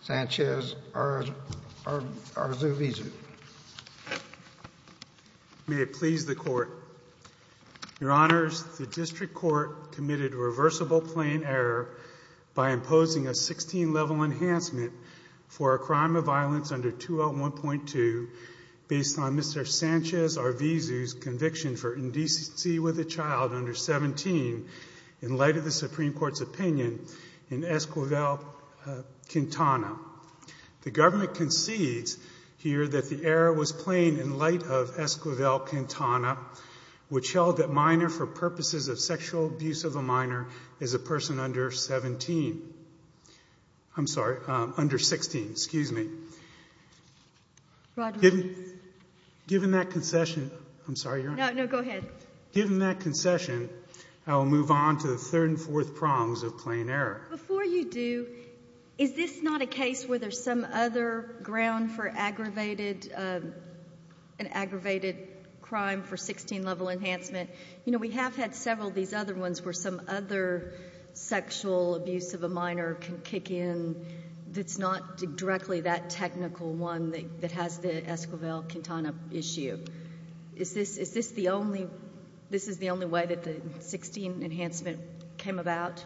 Sanchez-Arvizu. May it please the court. Your honors, the district court committed a reversible plane error by imposing a 16 level enhancement for a crime of violence under 201.2 based on Mr. Sanchez-Arvizu's conviction for indecency with a child under 17 in light of the Supreme Court ruling on Esquivel-Quintana. The government concedes here that the error was plain in light of Esquivel-Quintana, which held that minor for purposes of sexual abuse of a minor is a person under 17. I'm sorry, under 16, excuse me. Given that concession, I'm sorry, your honor. No, no, go ahead. Given that concession, I will move on to the third and fourth prongs of plane error. Before you do, is this not a case where there's some other ground for aggravated, an aggravated crime for 16 level enhancement? You know, we have had several of these other ones where some other sexual abuse of a minor can kick in that's not directly that technical one that has the Esquivel-Quintana issue. Is this, is this the only, this is the only way that the 16 enhancement came about?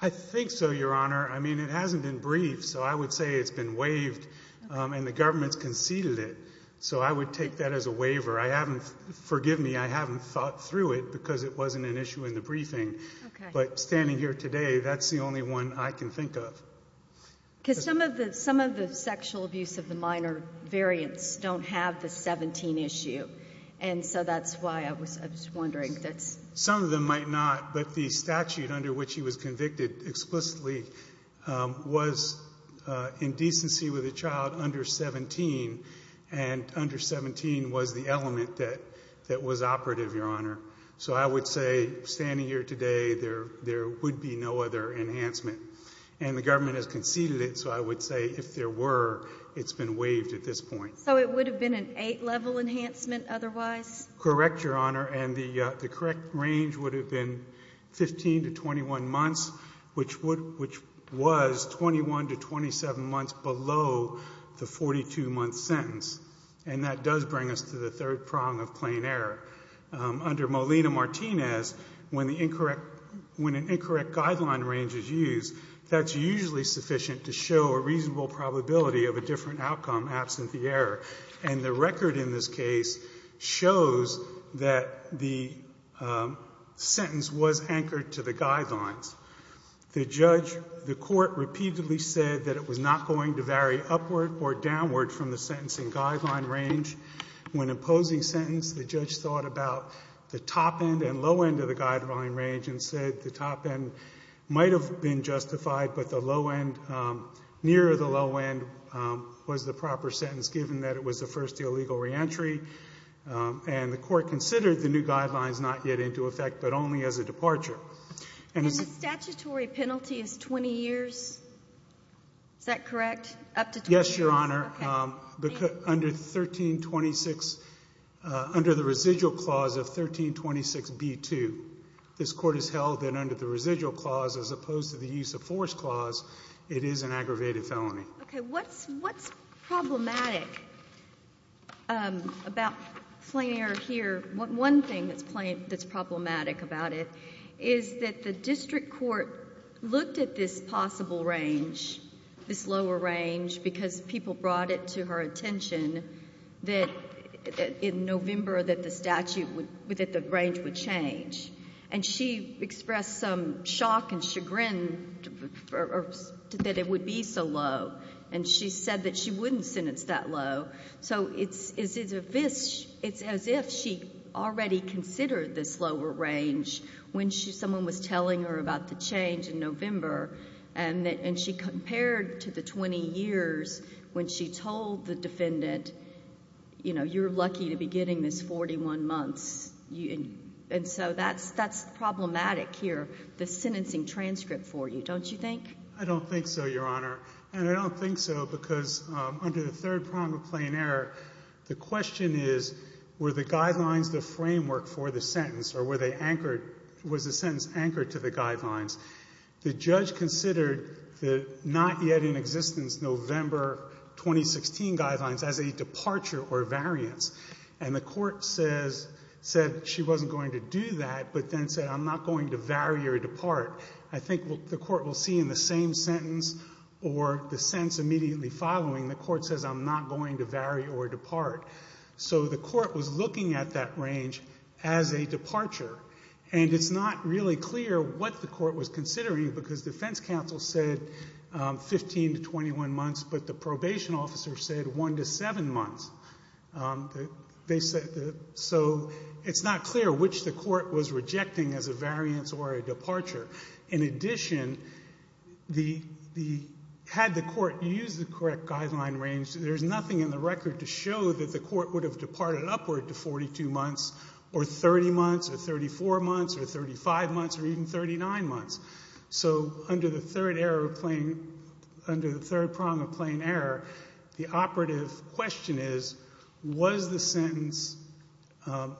I think so, your honor. I mean, it hasn't been briefed, so I would say it's been waived, and the government's conceded it. So I would take that as a waiver. I haven't, forgive me, I haven't thought through it because it wasn't an issue in the briefing. Okay. But standing here today, that's the only one I can think of. Because some of the, some of the sexual abuse of the minor variants don't have the 17 issue. And so that's why I was, I was wondering that's. Some of them might not, but the statute under which he was convicted explicitly was indecency with a child under 17, and under 17 was the element that, that was operative, your honor. So I would say, standing here today, there, there would be no other enhancement. And the government has conceded it, so I would say if there were, it's been waived at this point. So it would have been an 8-level enhancement otherwise? Correct, your honor. And the, the correct range would have been 15 to 21 months, which would, which was 21 to 27 months below the 42-month sentence. And that does bring us to the third prong of plain error. Under Molina-Martinez, when the incorrect, when an incorrect guideline range is used, that's usually sufficient to show a reasonable probability of a different outcome absent the error. And the record in this case shows that the sentence was anchored to the guidelines. The judge, the court repeatedly said that it was not going to vary upward or downward from the sentencing guideline range. When imposing sentence, the judge thought about the top end and low end of the guideline range and said the top end might have been the proper sentence given that it was the first illegal reentry. And the court considered the new guidelines not yet into effect, but only as a departure. And the statutory penalty is 20 years? Is that correct? Up to 20 years? Yes, your honor. Okay. Thank you. Under 1326, under the residual clause of 1326B2, this court has held that under the residual clause as opposed to the use of force clause, it is an aggravated felony. Okay. What's problematic about Flair here? One thing that's problematic about it is that the district court looked at this possible range, this lower range, because people brought it to her attention that in November that the statute would, that the range would change. And she expressed some shock and chagrin that it would be so low and she said that she wouldn't sentence that low. So it's as if she already considered this lower range when someone was telling her about the change in November and she compared to the 20 years when she told the defendant, you know, you're lucky to be getting this 41 months. And so that's problematic here, the sentencing transcript for you, don't you think? I don't think so, your honor. And I don't think so because under the third prong of plain error, the question is, were the guidelines the framework for the sentence or were they anchored, was the sentence anchored to the guidelines? The judge considered the not yet in existence November 2016 guidelines as a departure or variance. And the court says, said she wasn't going to do that but then said I'm not going to vary or depart. I think the court will see in the same sentence or the sentence immediately following, the court says I'm not going to vary or depart. So the court was looking at that range as a departure. And it's not really clear what the court was considering because defense counsel said 15 to 21 months but the probation officer said 1 to 7 months. So it's not clear which the court was rejecting as a variance or a departure. In addition, had the court used the correct guideline range, there's nothing in the record to show that the court would have departed upward to 42 months or 30 months or 34 months or 35 months or even 39 months. So under the third error of plain, under the third prong of plain error, the operative question is, was the sentence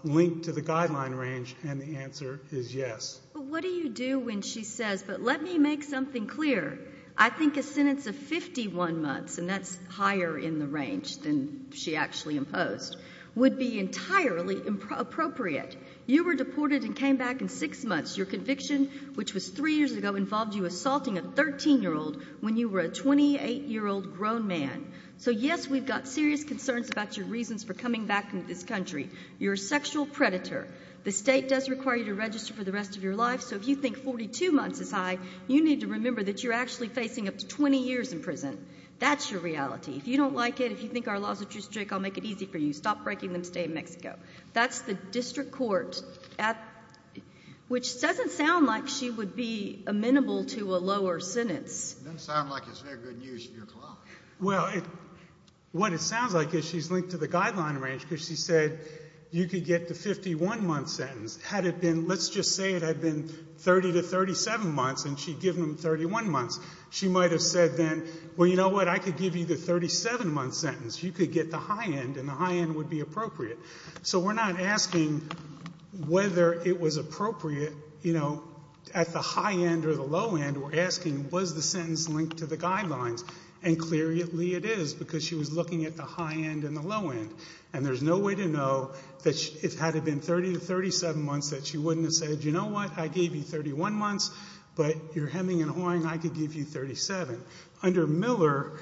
linked to the guideline range? And the answer is yes. But what do you do when she says, but let me make something clear. I think a sentence of 51 months, and that's higher in the range than she actually imposed, would be entirely appropriate. You were deported and came back in six months. Your conviction, which was three years ago, involved you assaulting a 13-year-old when you were a 28-year-old grown man. So yes, we've got serious concerns about your reasons for coming back into this country. You're a sexual predator. The state does require you to register for the rest of your life. So if you think 42 months is high, you need to remember that you're actually facing up to 20 years in prison. That's your reality. If you don't like it, if you think our laws are too strict, I'll make it easy for you. Stop breaking them. Stay in Mexico. That's the district court at, which doesn't sound like she would be amenable to a lower sentence. It doesn't sound like it's very good news for your client. Well, what it sounds like is she's linked to the guideline range because she said you could get the 51-month sentence. Had it been, let's just say it had been 30 to 37 months and she'd given him 31 months, she might have said then, well, you know what, I could give you the 37-month sentence. You could get the high end and the high end would be appropriate. So we're not asking whether it was appropriate, you know, at the high end or the low end. We're asking was the sentence linked to the guidelines? And clearly it is because she was looking at the high end and the low end. And there's no way to know that if it had been 30 to 37 months that she wouldn't have said, you know what, I gave you 31 months, but you're hemming and hawing, I could give you 37. Under Miller,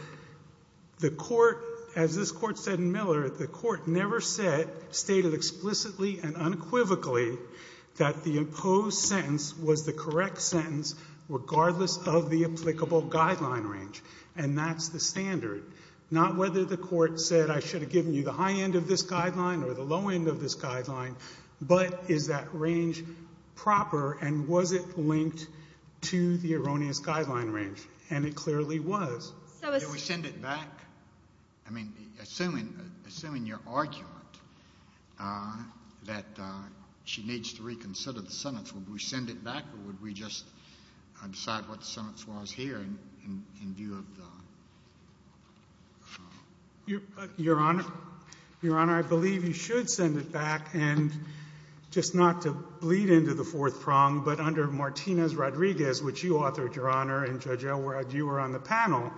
the court, as this court said in Miller, the court never said, stated explicitly and unequivocally that the imposed sentence was the correct sentence regardless of the applicable guideline range. And that's the standard. Not whether the court said I should have given you the high end of this to the erroneous guideline range. And it clearly was. So we send it back? I mean, assuming, assuming your argument that she needs to reconsider the sentence, would we send it back or would we just decide what the sentence was here in view of the... Your Honor, I believe you should send it back. And just not to bleed into the fourth prong, but under Martinez-Rodriguez, which you authored, Your Honor, and Judge Elwood, you were on the panel,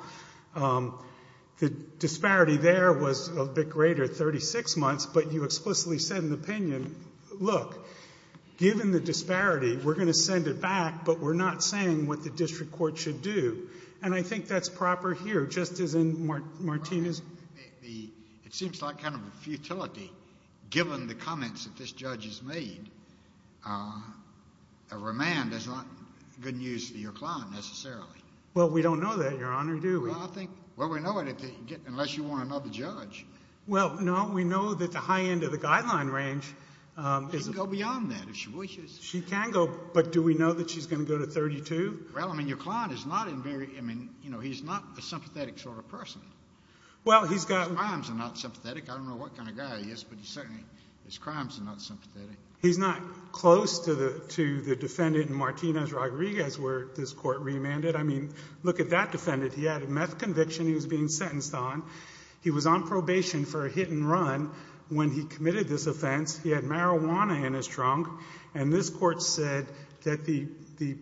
the disparity there was a bit greater, 36 months, but you explicitly said in the opinion, look, given the disparity, we're going to send it back, but we're not saying what the district court should do. And I think that's proper here, just as in Martinez... It seems like kind of a futility, given the comments that this judge has made. A remand is not good news for your client necessarily. Well, we don't know that, Your Honor, do we? Well, I think, well, we know it unless you want to know the judge. Well, no, we know that the high end of the guideline range is... She can go beyond that if she wishes. She can go, but do we know that she's going to go to 32? Well, I mean, your client is not a very, I mean, you know, he's not a sympathetic sort of person. Well, he's got... His crimes are not sympathetic. I don't know what kind of guy he is, but he certainly, his crimes are not sympathetic. He's not close to the defendant in Martinez-Rodriguez where this court remanded. I mean, look at that defendant. He had a meth conviction he was being sentenced on. He was on probation for a hit and run when he committed this offense. He had marijuana in his trunk. And this court said that the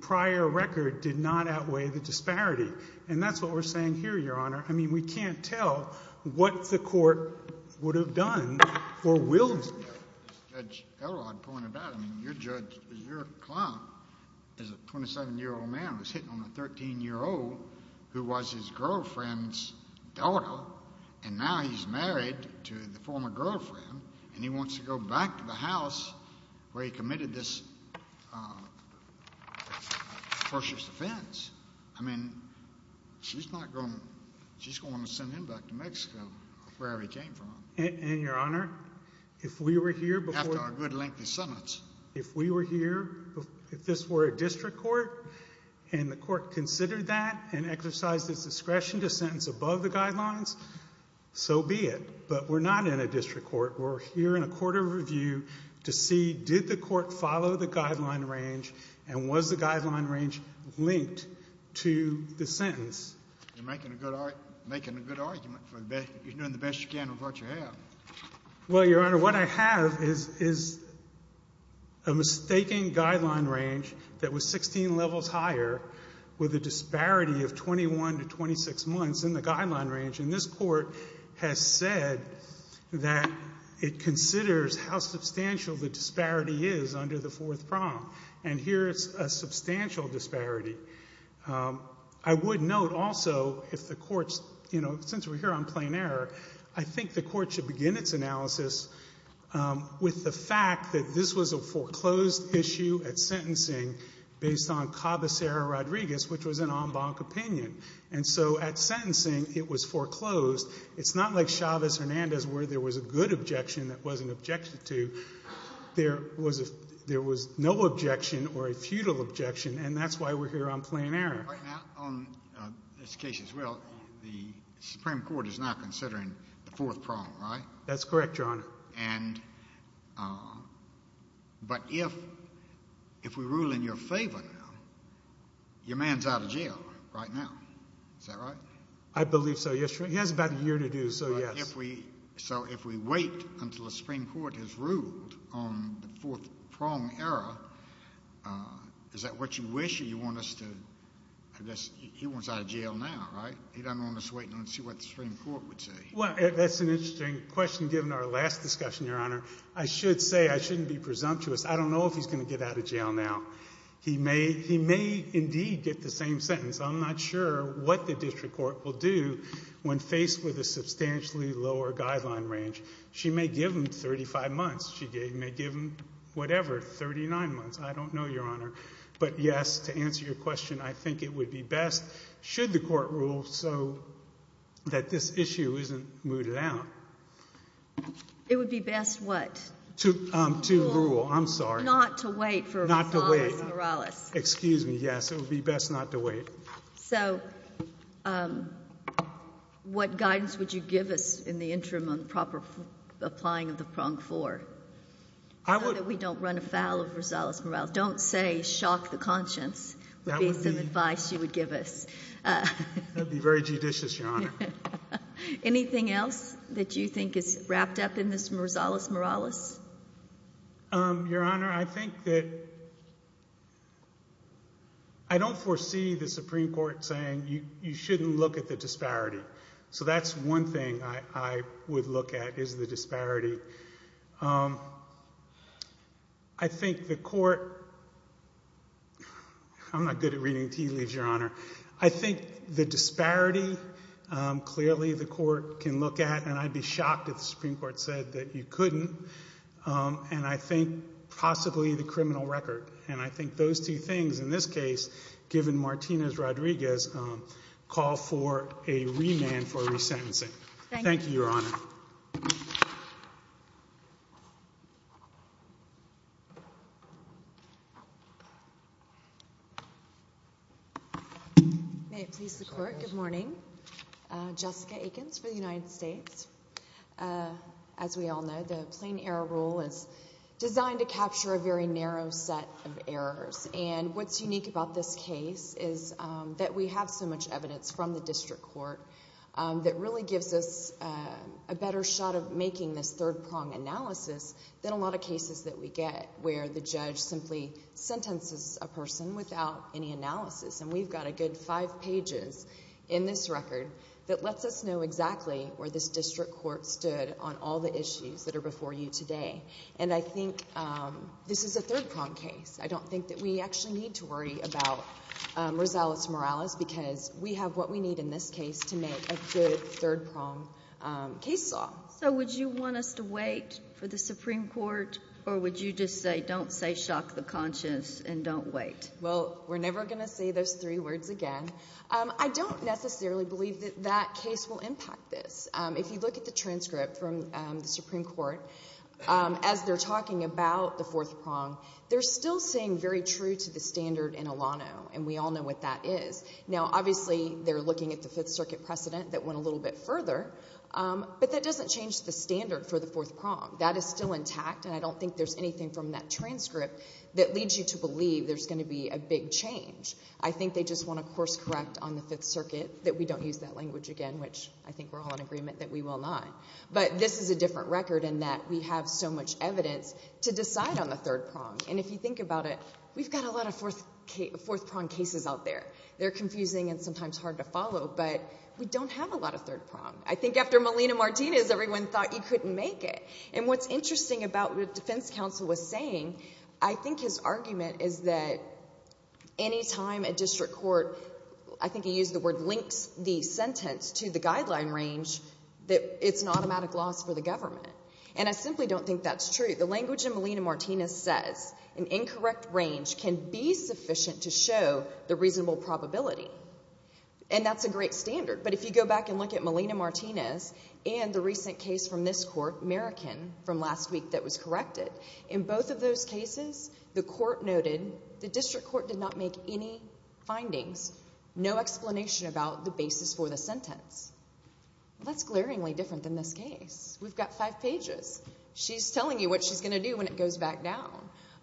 prior record did not outweigh the disparity. And that's what we're saying here, Your Honor. I mean, we can't tell what the court would have done or will do. As Judge Elrod pointed out, I mean, your client is a 27-year-old man who's hitting on a 13-year-old who was his girlfriend's daughter, and now he's married to the former girlfriend, and he wants to go back to the house where he committed this atrocious offense. I mean, she's not going to, she's going to send him back to Mexico, wherever he came from. And Your Honor, if we were here before... After a good lengthy sentence. If we were here, if this were a district court, and the court considered that and exercised its discretion to sentence above the guidelines, so be it. But we're not in a district court. We're here in a court of review to see did the court follow the guideline range, and was the guideline range linked to the sentence? You're making a good argument. You're doing the best you can with what you have. Well, Your Honor, what I have is a mistaking guideline range that was 16 levels higher with a disparity of 21 to 26 months in the guideline range. And this court has said that it considers how substantial the disparity is under the fourth prong. And here it's a substantial disparity. I would note also, if the court's, you know, since we're here on plain error, I think the court should begin its analysis with the fact that this was a foreclosed issue at sentencing based on Cabecerra-Rodriguez, which was an en banc opinion. And so at sentencing, it was foreclosed. It's not like Chavez-Hernandez, where there was a good objection that wasn't objected to. There was no objection or a futile objection, and that's why we're here on plain error. Right now, on this case as well, the Supreme Court is now considering the fourth prong, right? That's correct, Your Honor. But if we rule in your favor now, your man's out of jail right now. Is that right? I believe so, yes, Your Honor. He has about a year to do, so yes. So if we wait until the Supreme Court has ruled on the fourth prong error, is that what you wish, or you want us to, I guess, he wants out of jail now, right? He doesn't want us waiting to see what the Supreme Court would say. Well, that's an interesting question, given our last discussion, Your Honor. I should say I shouldn't be presumptuous. I don't know if he's going to get out of jail now. He may indeed get the same sentence. I'm not sure what the district court will do when faced with a substantially lower guideline range. She may give him 35 months. She may give him whatever, 39 months. I don't know, Your Honor. But yes, to answer your question, I think it would be best, should the court rule so that this issue isn't mooted out. It would be best what? To rule. I'm sorry. Not to wait for Morales. Excuse me, yes. It would be best not to wait. So what guidance would you give us in the interim on the proper applying of the prong four? So that we don't run afoul of Rosales-Morales. Don't, say, shock the conscience, would be some advice you would give us. That would be very judicious, Your Honor. Anything else that you think is wrapped up in this Rosales-Morales? Your Honor, I think that, I don't foresee the Supreme Court saying you shouldn't look at the disparity. So that's one thing I would look at, is the disparity. I think the court, I'm not good at reading tea leaves, Your Honor. I think the disparity, clearly the court can look at, and I'd be shocked if the Supreme Court said that you couldn't. And I think possibly the criminal record. And I think those two things, in this case, given Martinez-Rodriguez, call for a remand for resentencing. Thank you, Your Honor. May it please the Court. Good morning. Jessica Aikens for the United States Supreme Court. As we all know, the Plain Error Rule is designed to capture a very narrow set of errors. And what's unique about this case is that we have so much evidence from the district court that really gives us a better shot of making this third-prong analysis than a lot of cases that we get, where the judge simply sentences a person without any analysis. And we've got a good five pages in this record that lets us know exactly where this district court stood on all the issues that are before you today. And I think this is a third-prong case. I don't think that we actually need to worry about Rosales-Morales, because we have what we need in this case to make a good third-prong case law. So would you want us to wait for the Supreme Court, or would you just say, don't say shock the conscience and don't wait? Well, we're never going to say those three words again. I don't necessarily believe that that case will impact this. If you look at the transcript from the Supreme Court, as they're talking about the fourth-prong, they're still staying very true to the standard in Alano, and we all know what that is. Now, obviously, they're looking at the Fifth Circuit precedent that went a little bit further, but that doesn't change the standard for the fourth-prong. That is still intact, and I don't think there's anything from that transcript that leads you to believe there's going to be a big change. I think they just want to course-correct on the Fifth Circuit, that we don't use that language again, which I think we're all in agreement that we will not. But this is a different record in that we have so much evidence to decide on the third-prong. And if you think about it, we've got a lot of fourth-prong cases out there. They're confusing and sometimes hard to follow, but we don't have a lot of third-prong. I think after Melina Martinez, everyone thought you couldn't make it. And what's interesting about what the Defense Counsel was saying, I think his argument is that any time a district court, I think he used the word, links the sentence to the guideline range, that it's an automatic loss for the government. And I simply don't think that's true. The language in Melina Martinez says an incorrect range can be sufficient to show the reasonable probability, and that's a great standard. But if you go back and look at Melina Martinez and the recent case from this court, Merican, from last week that was corrected, in both of those cases, the court noted the district court did not make any findings, no explanation about the basis for the sentence. That's glaringly different than this case. We've got five pages. She's telling you what she's going to do when it goes back down.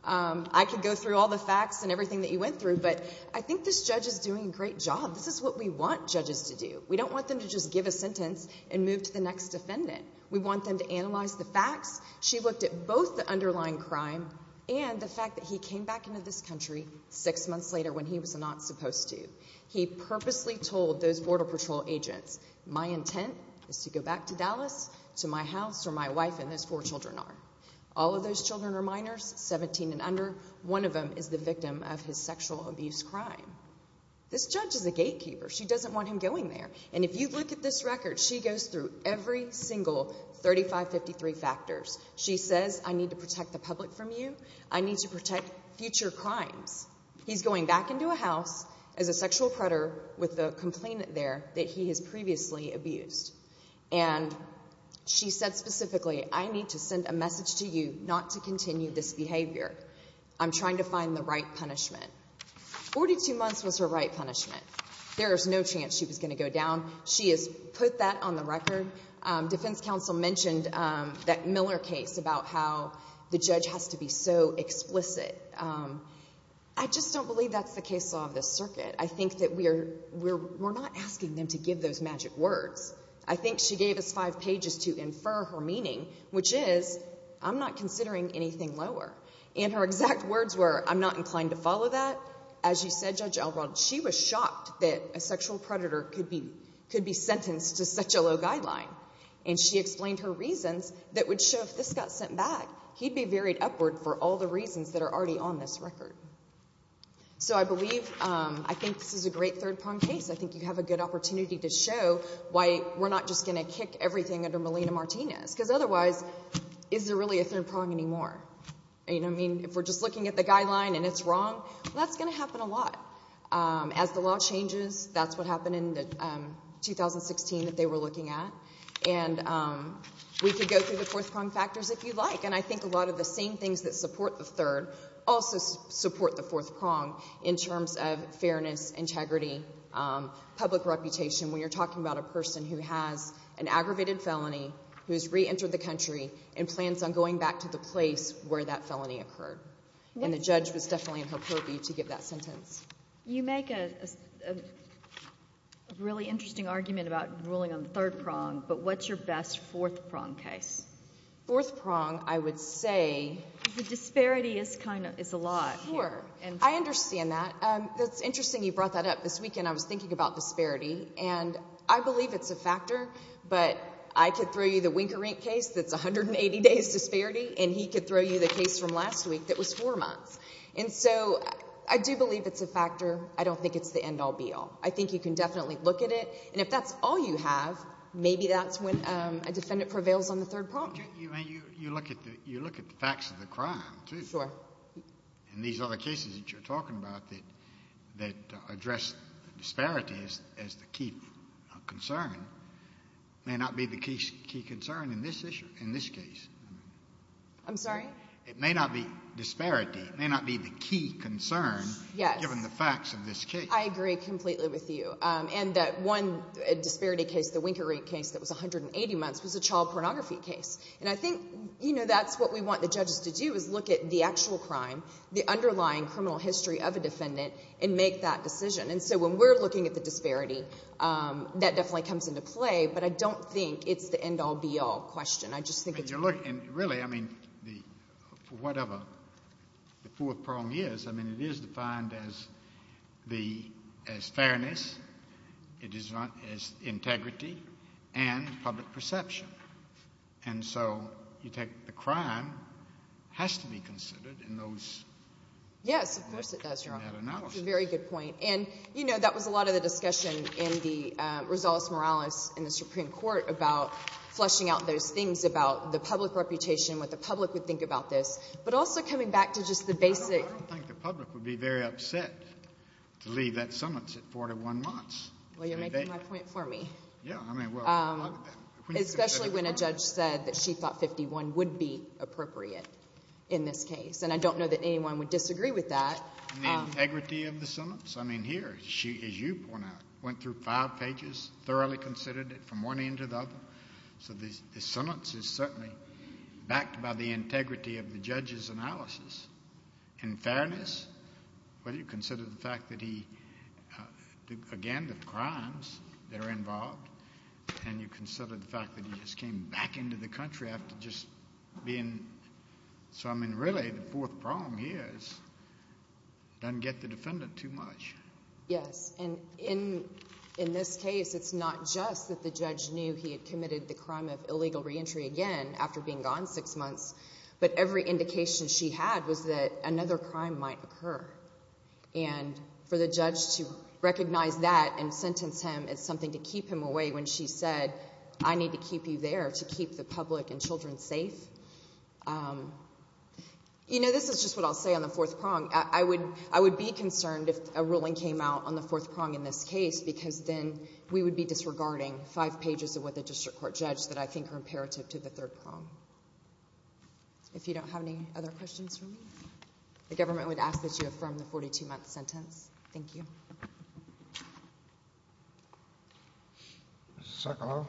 I could go through all the facts and everything that you went through, but I think this judge is doing a great job. This is what we want judges to do. We don't want them to just give a sentence and move to the next defendant. We want them to analyze the facts. She looked at both the underlying crime and the fact that he came back into this country six months later when he was not supposed to. He purposely told those Border Patrol agents, my intent is to go back to Dallas to my house where my wife and those four children are. All of those children are minors, 17 and under. One of them is the victim of his sexual abuse crime. This judge is a gatekeeper. She doesn't want him going there. And if you look at this record, she goes through every single 3553 factors. She says, I need to protect the public from you. I need to protect future crimes. He's going back into a house as a sexual predator with a complainant there that he has previously abused. And she said specifically, I need to send a message to you not to continue this behavior. I'm trying to find the right punishment. 42 months was her right punishment. There is no chance she was going to go down. She has put that on the record. Defense counsel mentioned that Miller case about how the judge has to be so explicit. I just don't believe that's the case law of this circuit. I think that we're not asking them to give those magic words. I think she gave us five pages to infer her meaning, which is, I'm not considering anything lower. And her exact words were, I'm not inclined to follow that. As you said, Judge Elrod, she was shocked that a sexual predator could be sentenced to such a low guideline. And she explained her reasons that would show if this got sent back, he'd be buried upward for all the reasons that are already on this record. So I believe, I think this is a great third prong case. I think you have a good opportunity to show why we're not just going to kick everything under Melina Martinez. Because otherwise, is there really a third prong anymore? You know what I mean? If we're just looking at the guideline and it's wrong, that's going to happen a lot. As the law changes, that's what happened in 2016 that they were looking at. And we could go through the fourth prong factors if you'd like. And I think a lot of the same things that support the third also support the fourth prong in terms of fairness, integrity, public reputation. When you're talking about a person who has an aggravated felony, who has reentered the country, and plans on going back to the place where that felony occurred. And the You make a really interesting argument about ruling on the third prong, but what's your best fourth prong case? Fourth prong, I would say... The disparity is a lot. Sure. I understand that. That's interesting you brought that up. This weekend, I was thinking about disparity. And I believe it's a factor, but I could throw you the Wink-A-Rink case that's 180 days disparity, and he could throw you the case from last week that was four months. And so, I do believe it's a factor. I don't think it's the end-all, be-all. I think you can definitely look at it, and if that's all you have, maybe that's when a defendant prevails on the third prong. You look at the facts of the crime, too. Sure. And these other cases that you're talking about that address disparity as the key concern may not be the key concern in this case. I'm sorry? It may not be disparity. It may not be the key concern, given the facts of this case. I agree completely with you. And that one disparity case, the Wink-A-Rink case that was 180 months, was a child pornography case. And I think, you know, that's what we want the judges to do, is look at the actual crime, the underlying criminal history of a defendant, and make that decision. And so when we're looking at the disparity, that definitely comes into play, but I don't think it's the end-all, be-all question. I just think it's... But you're looking, really, I mean, for whatever the fourth prong is, I mean, it is defined as fairness, it is not, as integrity, and public perception. And so, you take the crime, has to be considered in those... Yes, of course it does, Your Honor. ...in that analysis. That's a very good point. And, you know, that was a lot of the discussion in the Rosales-Morales, in the Supreme Court, about fleshing out those things about the public reputation, what the public would think about this. But also coming back to just the basic... I don't think the public would be very upset to leave that summons at four to one months. Well, you're making my point for me. Yeah, I mean, well... Especially when a judge said that she thought 51 would be appropriate in this case. And I don't know that anyone would disagree with that. The integrity of the summons, I mean, here, as you point out, went through five pages, thoroughly considered it from one end to the other. So the summons is certainly backed by the integrity of the judge's analysis. In fairness, when you consider the fact that he, again, the crimes that are involved, and you consider the fact that he just came back into the country after just being... So, I don't know where he is. Doesn't get the defendant too much. Yes, and in this case, it's not just that the judge knew he had committed the crime of illegal reentry again after being gone six months, but every indication she had was that another crime might occur. And for the judge to recognize that and sentence him as something to keep him away when she said, I need to keep you there to keep the public and children safe. You know, this is just what I'll say on the fourth prong. I would be concerned if a ruling came out on the fourth prong in this case, because then we would be disregarding five pages of what the district court judged that I think are imperative to the third prong. If you don't have any other questions for me, the government would ask that you affirm the 42-month sentence. Thank you. Mr. Sokoloff?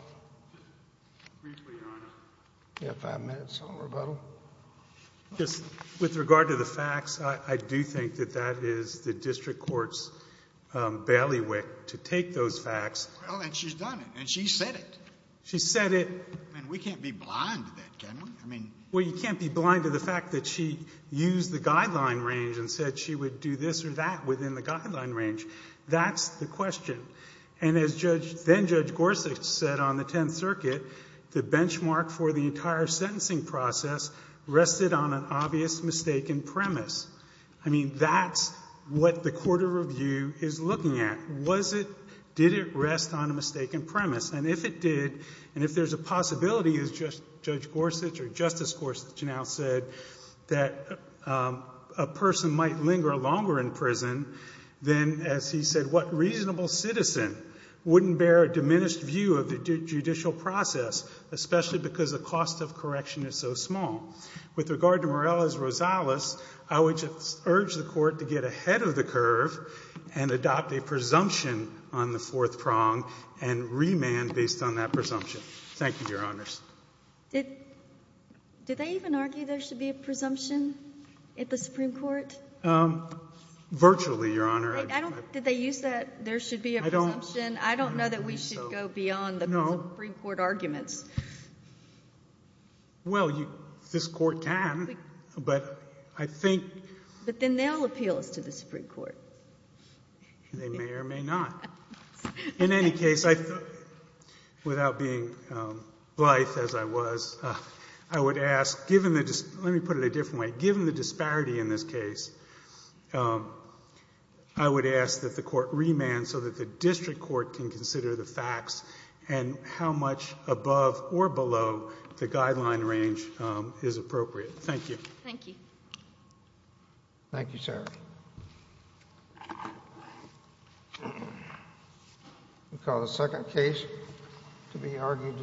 Briefly, Your Honor. You have five minutes on rebuttal. With regard to the facts, I do think that that is the district court's bailiwick to take those facts. Well, and she's done it, and she's said it. She's said it. And we can't be blind to that, can we? I mean... Well, you can't be blind to the fact that she used the guideline range and said she would do this or that within the guideline range. That's the question. And as then-Judge Gorsuch said on the Tenth Circuit, the benchmark for the entire sentencing process rested on an obvious mistaken premise. I mean, that's what the court of review is looking at. Did it rest on a mistaken premise? And if it did, and if there's a possibility, as Judge Gorsuch or Justice Gorsuch now said, that a person might linger longer in prison, then, as he said, what reasonable citizen wouldn't bear a diminished view of the judicial process, especially because the cost of correction is so small? With regard to Morella's Rosales, I would just urge the court to get ahead of the curve and adopt a presumption on the fourth prong and remand based on that presumption. Thank you, Your Honors. Did they even argue there should be a presumption at the Supreme Court? Virtually, Your Honor. Did they use that, there should be a presumption? I don't know that we should go beyond the Supreme Court arguments. Well, this Court can, but I think... But then they'll appeal this to the Supreme Court. They may or may not. In any case, without being blithe as I was, I would ask, given the... Let me put it a different way. Given the disparity in this case, I would ask that the court remand so that the district court can consider the facts and how much above or below the guideline range is appropriate. Thank you. Thank you. Thank you, sir. We'll call the second case to be argued today.